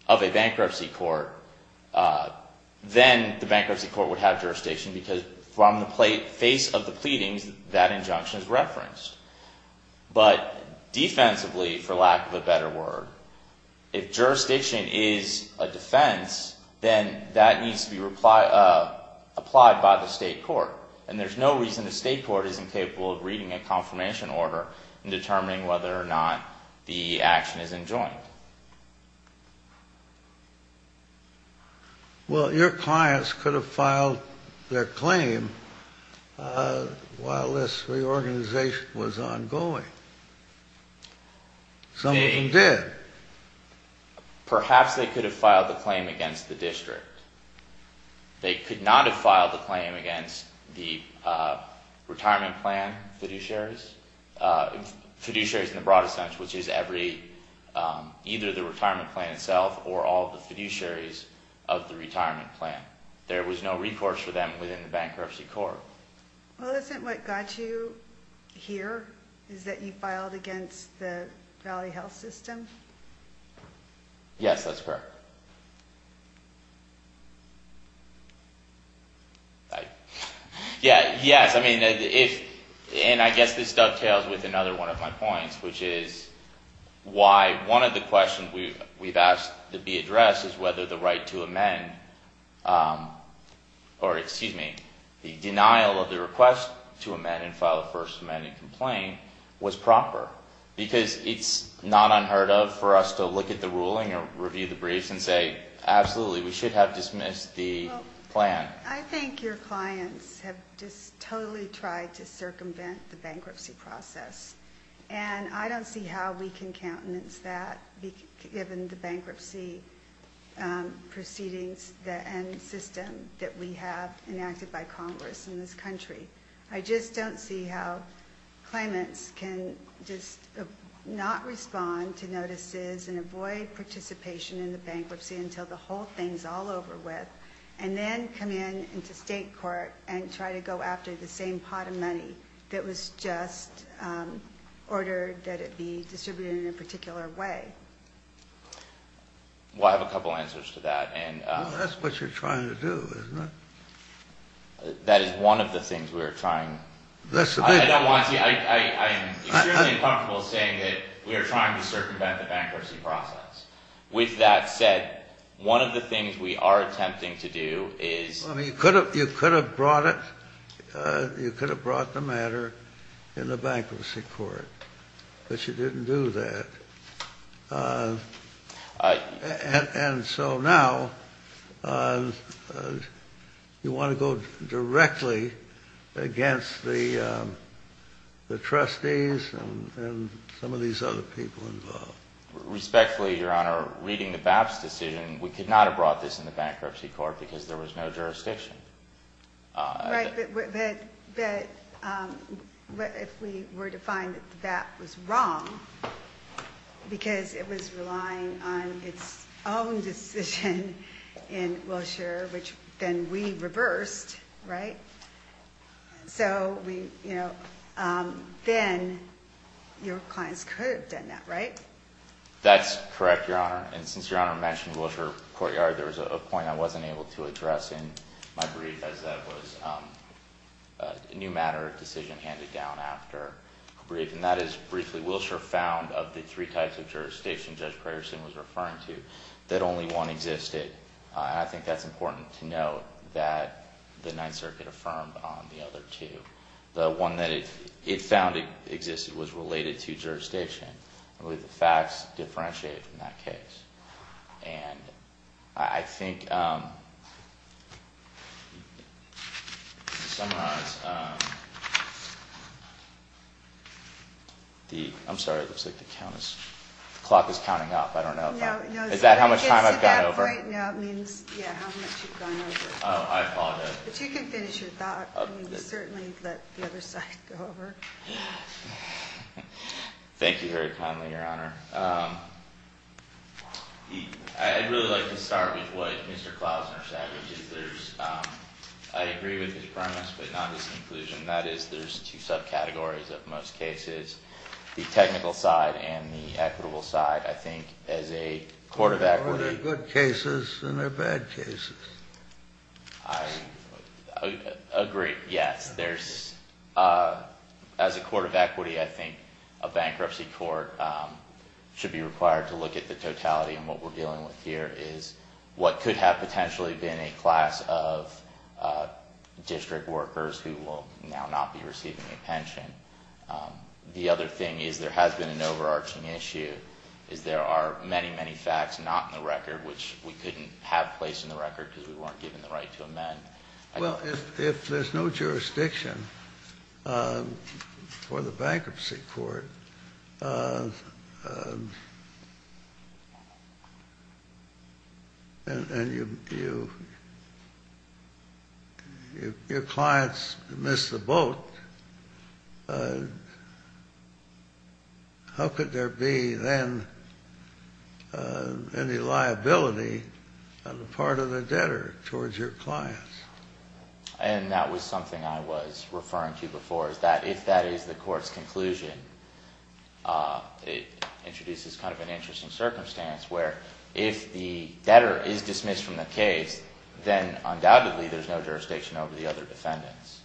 of a bankruptcy court, then the bankruptcy court would have jurisdiction because from the face of the pleadings, that injunction is referenced. But defensively, for lack of a better word, if jurisdiction is a defense, then that needs to be applied by the state court. And there's no reason the state court isn't capable of reading a confirmation order and determining whether or not the action is enjoined. Well, your clients could have filed their claim while this reorganization was ongoing. Some of them did. Perhaps they could have filed the claim against the district. They could not have filed the claim against the retirement plan fiduciaries, fiduciaries in the broadest sense, which is either the retirement plan itself or all the fiduciaries of the retirement plan. There was no recourse for them within the bankruptcy court. Well, isn't what got you here is that you filed against the Valley Health System? Yes, that's correct. Yes, I mean, and I guess this dovetails with another one of my points, which is why one of the questions we've asked to be addressed is whether the right to amend or, excuse me, the denial of the request to amend and file a first amendment complaint was proper, because it's not unheard of for us to look at the ruling or review the briefs and say, absolutely, we should have dismissed the plan. I think your clients have just totally tried to circumvent the bankruptcy process, and I don't see how we can countenance that, given the bankruptcy proceedings and system that we have enacted by Congress in this country. I just don't see how claimants can just not respond to notices and avoid participation in the bankruptcy until the whole thing's all over with and then come in into state court and try to go after the same pot of money that was just ordered that it be distributed in a particular way. Well, I have a couple answers to that. Well, that's what you're trying to do, isn't it? That is one of the things we are trying. That's the big one. I'm extremely uncomfortable saying that we are trying to circumvent the bankruptcy process. With that said, one of the things we are attempting to do is... I mean, you could have brought it. You could have brought the matter in the bankruptcy court, but you didn't do that. And so now you want to go directly against the trustees and some of these other people involved. Respectfully, Your Honor, reading the BAPS decision, we could not have brought this in the bankruptcy court because there was no jurisdiction. Right, but if we were to find that the BAPS was wrong because it was relying on its own decision in Wilshire, which then we reversed, right? So then your clients could have done that, right? That's correct, Your Honor. And since Your Honor mentioned Wilshire Courtyard, there was a point I wasn't able to address in my brief, as that was a new matter of decision handed down after a brief. And that is, briefly, Wilshire found of the three types of jurisdiction Judge Preterson was referring to, that only one existed. And I think that's important to note, that the Ninth Circuit affirmed on the other two. The one that it found existed was related to jurisdiction. I believe the facts differentiate in that case. And I think, to summarize, I'm sorry, it looks like the clock is counting up. I don't know if I'm, is that how much time I've gone over? No, it means, yeah, how much you've gone over. Oh, I apologize. But you can finish your thought. Certainly let the other side go over. Thank you very kindly, Your Honor. I'd really like to start with what Mr. Klausner said, which is there's, I agree with his premise, but not his conclusion. That is, there's two subcategories of most cases, the technical side and the equitable side. I think as a court of equity... Well, there are good cases and there are bad cases. I agree, yes. As a court of equity, I think a bankruptcy court should be required to look at the totality of what we're dealing with here, is what could have potentially been a class of district workers who will now not be receiving a pension. The other thing is there has been an overarching issue, is there are many, many facts not in the record, which we couldn't have placed in the record because we weren't given the right to amend. Well, if there's no jurisdiction for the bankruptcy court and your clients miss the boat, how could there be then any liability on the part of the debtor towards your clients? And that was something I was referring to before, is that if that is the court's conclusion, it introduces kind of an interesting circumstance where if the debtor is dismissed from the case, then undoubtedly there's no jurisdiction over the other defendants.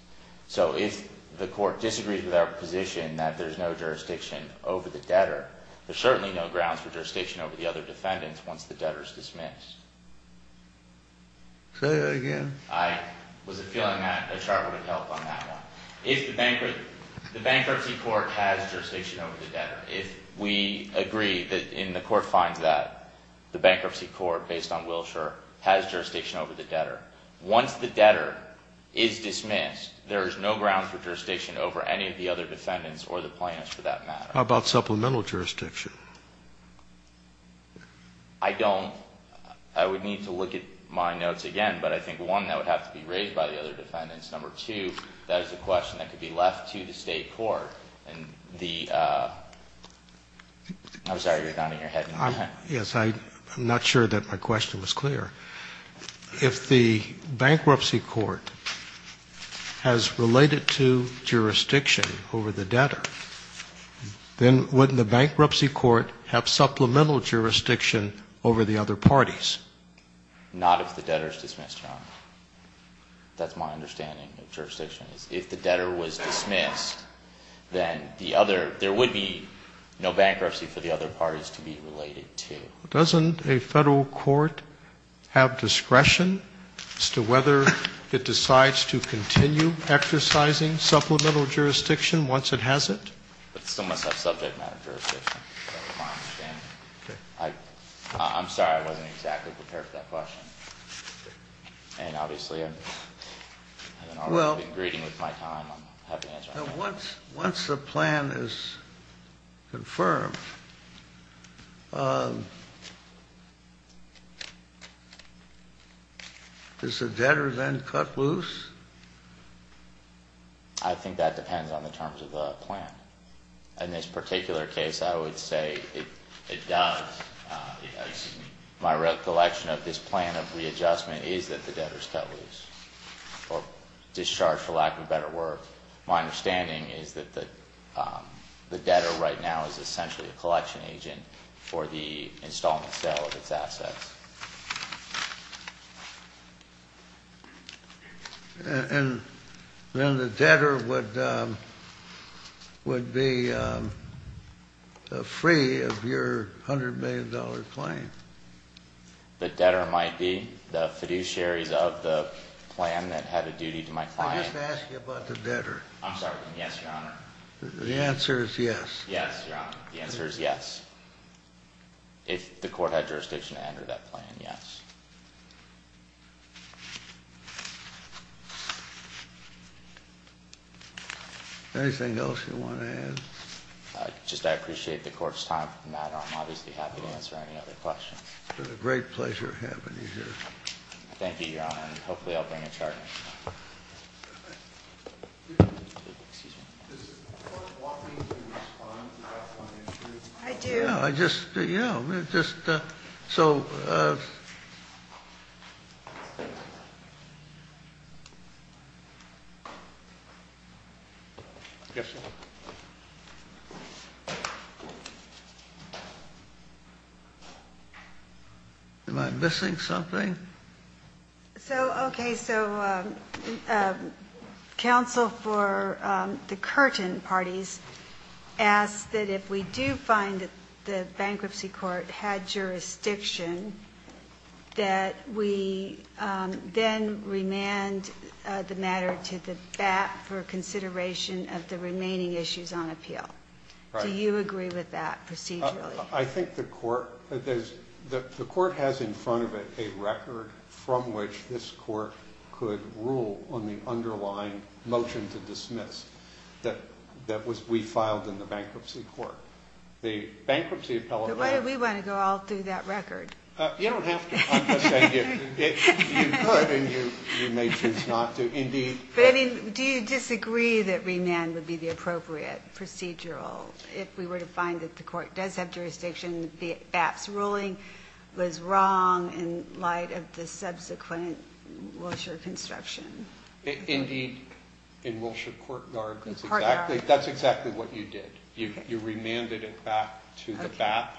So if the court disagrees with our position that there's no jurisdiction over the debtor, there's certainly no grounds for jurisdiction over the other defendants once the debtor is dismissed. Say that again. I was feeling that a chart would help on that one. If the bankruptcy court has jurisdiction over the debtor, if we agree that the court finds that the bankruptcy court, based on Wilshire, has jurisdiction over the debtor, once the debtor is dismissed, there is no grounds for jurisdiction over any of the other defendants or the plaintiffs for that matter. How about supplemental jurisdiction? I don't. I would need to look at my notes again, but I think, one, that would have to be raised by the other defendants. Number two, that is a question that could be left to the state court. And the – I'm sorry, you're nodding your head. Yes, I'm not sure that my question was clear. If the bankruptcy court has related to jurisdiction over the debtor, then wouldn't the bankruptcy court have supplemental jurisdiction over the other parties? Not if the debtor is dismissed, Your Honor. That's my understanding of jurisdiction. If the debtor was dismissed, then the other – there would be no bankruptcy for the other parties to be related to. Well, doesn't a Federal court have discretion as to whether it decides to continue exercising supplemental jurisdiction once it has it? It still must have subject matter jurisdiction. That's my understanding. Okay. I'm sorry, I wasn't exactly prepared for that question. And, obviously, I've been greeting with my time. I'm happy to answer any questions. Once the plan is confirmed, does the debtor then cut loose? I think that depends on the terms of the plan. In this particular case, I would say it does. My recollection of this plan of readjustment is that the debtor is cut loose or discharged for lack of a better word. My understanding is that the debtor right now is essentially a collection agent for the installment sale of its assets. And then the debtor would be free of your $100 million claim? The debtor might be. The fiduciaries of the plan that had a duty to my client. Let me just ask you about the debtor. I'm sorry. Yes, Your Honor. The answer is yes. Yes, Your Honor. The answer is yes. If the court had jurisdiction to enter that plan, yes. Anything else you want to add? Just I appreciate the court's time for the matter. I'm obviously happy to answer any other questions. It's been a great pleasure having you here. Thank you, Your Honor. And hopefully I'll bring a charge. Excuse me. Does the court want me to respond to that one? I do. I just, you know, just so. Yes, sir. Am I missing something? So, okay, so counsel for the Curtin parties asked that if we do find that the bankruptcy court had jurisdiction, that we then remand the matter to the BAP for consideration of the remaining issues on appeal. Do you agree with that procedurally? I think the court has in front of it a record from which this court could rule on the underlying motion to dismiss that we filed in the bankruptcy court. The bankruptcy appellate. But why do we want to go all through that record? You don't have to. You could and you may choose not to. Indeed. But, I mean, do you disagree that remand would be the appropriate procedural if we were to find that the court does have jurisdiction, the BAP's ruling was wrong in light of the subsequent Wilshire construction? Indeed, in Wilshire Courtyard, that's exactly what you did. You remanded it back to the BAP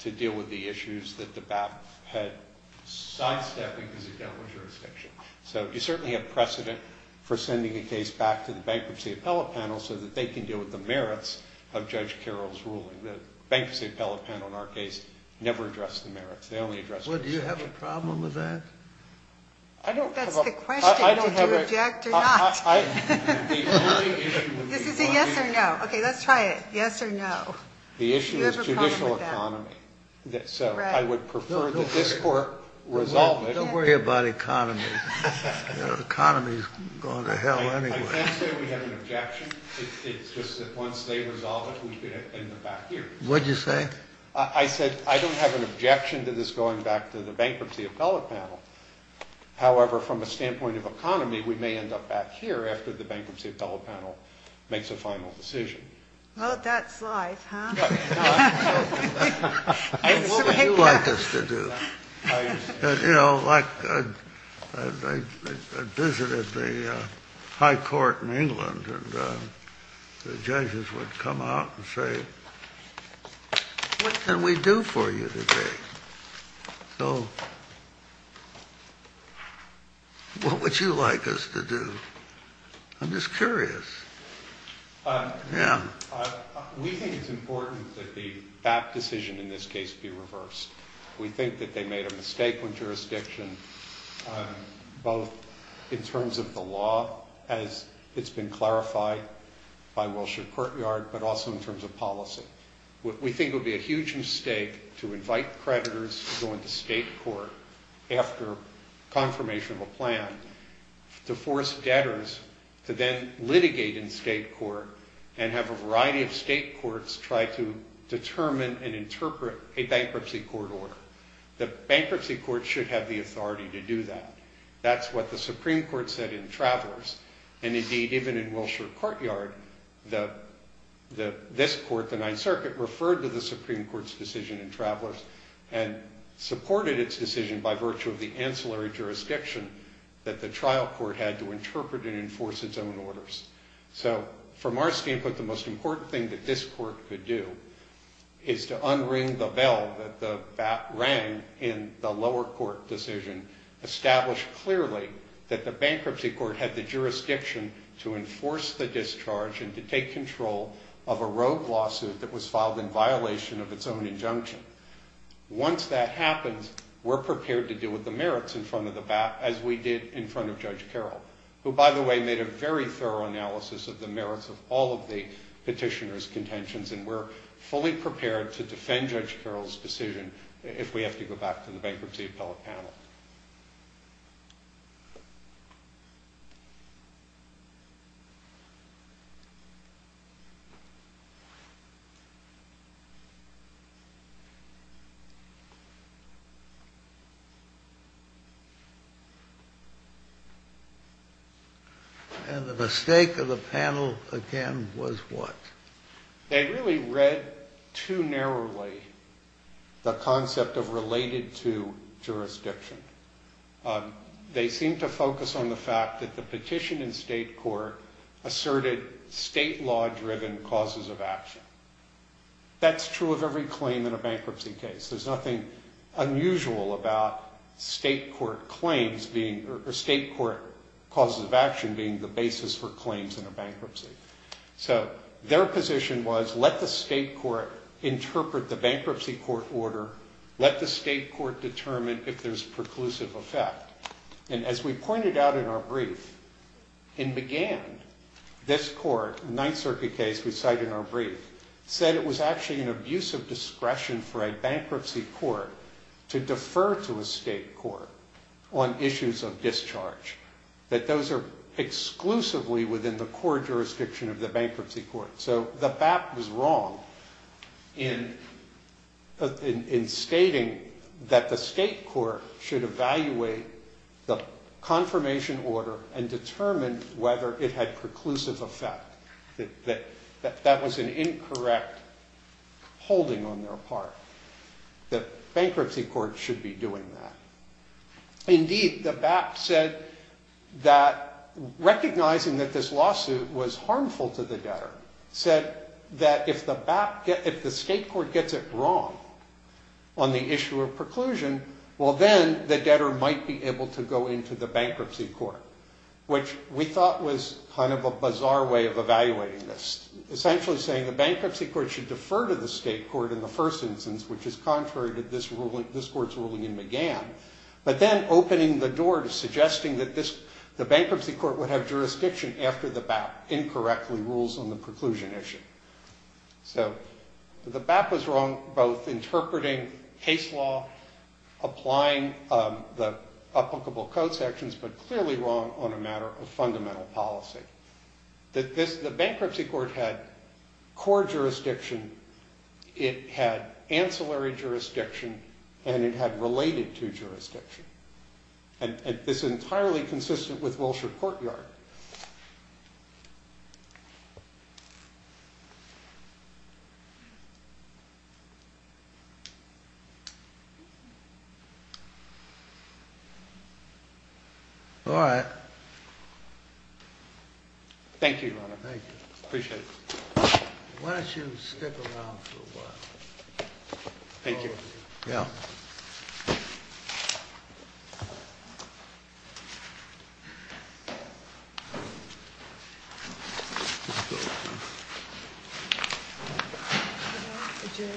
to deal with the issues that the BAP had sidestepped because it dealt with jurisdiction. So you certainly have precedent for sending a case back to the bankruptcy appellate panel so that they can deal with the merits of Judge Carroll's ruling. The bankruptcy appellate panel, in our case, never addressed the merits. They only addressed the procedure. Well, do you have a problem with that? I don't have a problem. That's the question. I don't have a problem. Do you object or not? This is a yes or no. Okay, let's try it. Yes or no. Do you have a problem with that? The issue is judicial economy. So I would prefer that this court resolve it. Don't worry about economy. Economy is going to hell anyway. I can't say we have an objection. It's just that once they resolve it, we could end up back here. What did you say? I said I don't have an objection to this going back to the bankruptcy appellate panel. However, from a standpoint of economy, we may end up back here after the bankruptcy appellate panel makes a final decision. Well, that's life, huh? It's what you want us to do. You know, like I visited the high court in England, and the judges would come out and say, what can we do for you today? So what would you like us to do? I'm just curious. Yeah. We think it's important that that decision in this case be reversed. We think that they made a mistake on jurisdiction, both in terms of the law, as it's been clarified by Wilshire Courtyard, but also in terms of policy. We think it would be a huge mistake to invite creditors to go into state court after confirmation of a plan to force debtors to then litigate in state court and have a variety of state courts try to determine and interpret a bankruptcy court order. The bankruptcy court should have the authority to do that. That's what the Supreme Court said in Travelers. And indeed, even in Wilshire Courtyard, this court, the Ninth Circuit, referred to the Supreme Court's decision in Travelers and supported its decision by virtue of the ancillary jurisdiction that the trial court had to interpret and enforce its own orders. So from our standpoint, the most important thing that this court could do is to unring the bell that the BAT rang in the lower court decision, establish clearly that the bankruptcy court had the jurisdiction to enforce the discharge and to take control of a rogue lawsuit that was filed in violation of its own injunction. Once that happens, we're prepared to deal with the merits in front of the BAT, as we did in front of Judge Carroll, who, by the way, made a very thorough analysis of the merits of all of the petitioner's contentions, and we're fully prepared to defend Judge Carroll's decision if we have to go back to the Bankruptcy Appellate Panel. And the mistake of the panel, again, was what? They really read too narrowly the concept of related to jurisdiction. They seemed to focus on the fact that the petition in state court asserted state law-driven causes of action. That's true of every claim in a bankruptcy case. There's nothing unusual about state court claims being or state court causes of action being the basis for claims in a bankruptcy. So their position was let the state court interpret the bankruptcy court order, let the state court determine if there's preclusive effect. And as we pointed out in our brief, in McGann, this court, the Ninth Circuit case we cite in our brief, said it was actually an abuse of discretion for a bankruptcy court to defer to a state court on issues of discharge, that those are exclusively within the court jurisdiction of the bankruptcy court. So the BAP was wrong in stating that the state court should evaluate the confirmation order and determine whether it had preclusive effect. That that was an incorrect holding on their part. The bankruptcy court should be doing that. Indeed, the BAP said that recognizing that this lawsuit was harmful to the debtor, said that if the state court gets it wrong on the issue of preclusion, well then the debtor might be able to go into the bankruptcy court, which we thought was kind of a bizarre way of evaluating this. Essentially saying the bankruptcy court should defer to the state court in the first instance, which is contrary to this court's ruling in McGann. But then opening the door to suggesting that the bankruptcy court would have jurisdiction after the BAP incorrectly rules on the preclusion issue. So the BAP was wrong both interpreting case law, applying the applicable code sections, but clearly wrong on a matter of fundamental policy. The bankruptcy court had core jurisdiction, it had ancillary jurisdiction, and it had related to jurisdiction. And this is entirely consistent with Wilshire Courtyard. All right. Thank you, Your Honor. Thank you. Appreciate it. Why don't you step around for a while? Thank you. Yeah. Thank you.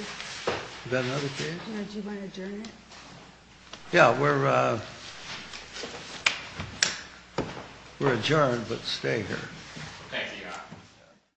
Yeah, we're adjourned, but stay here.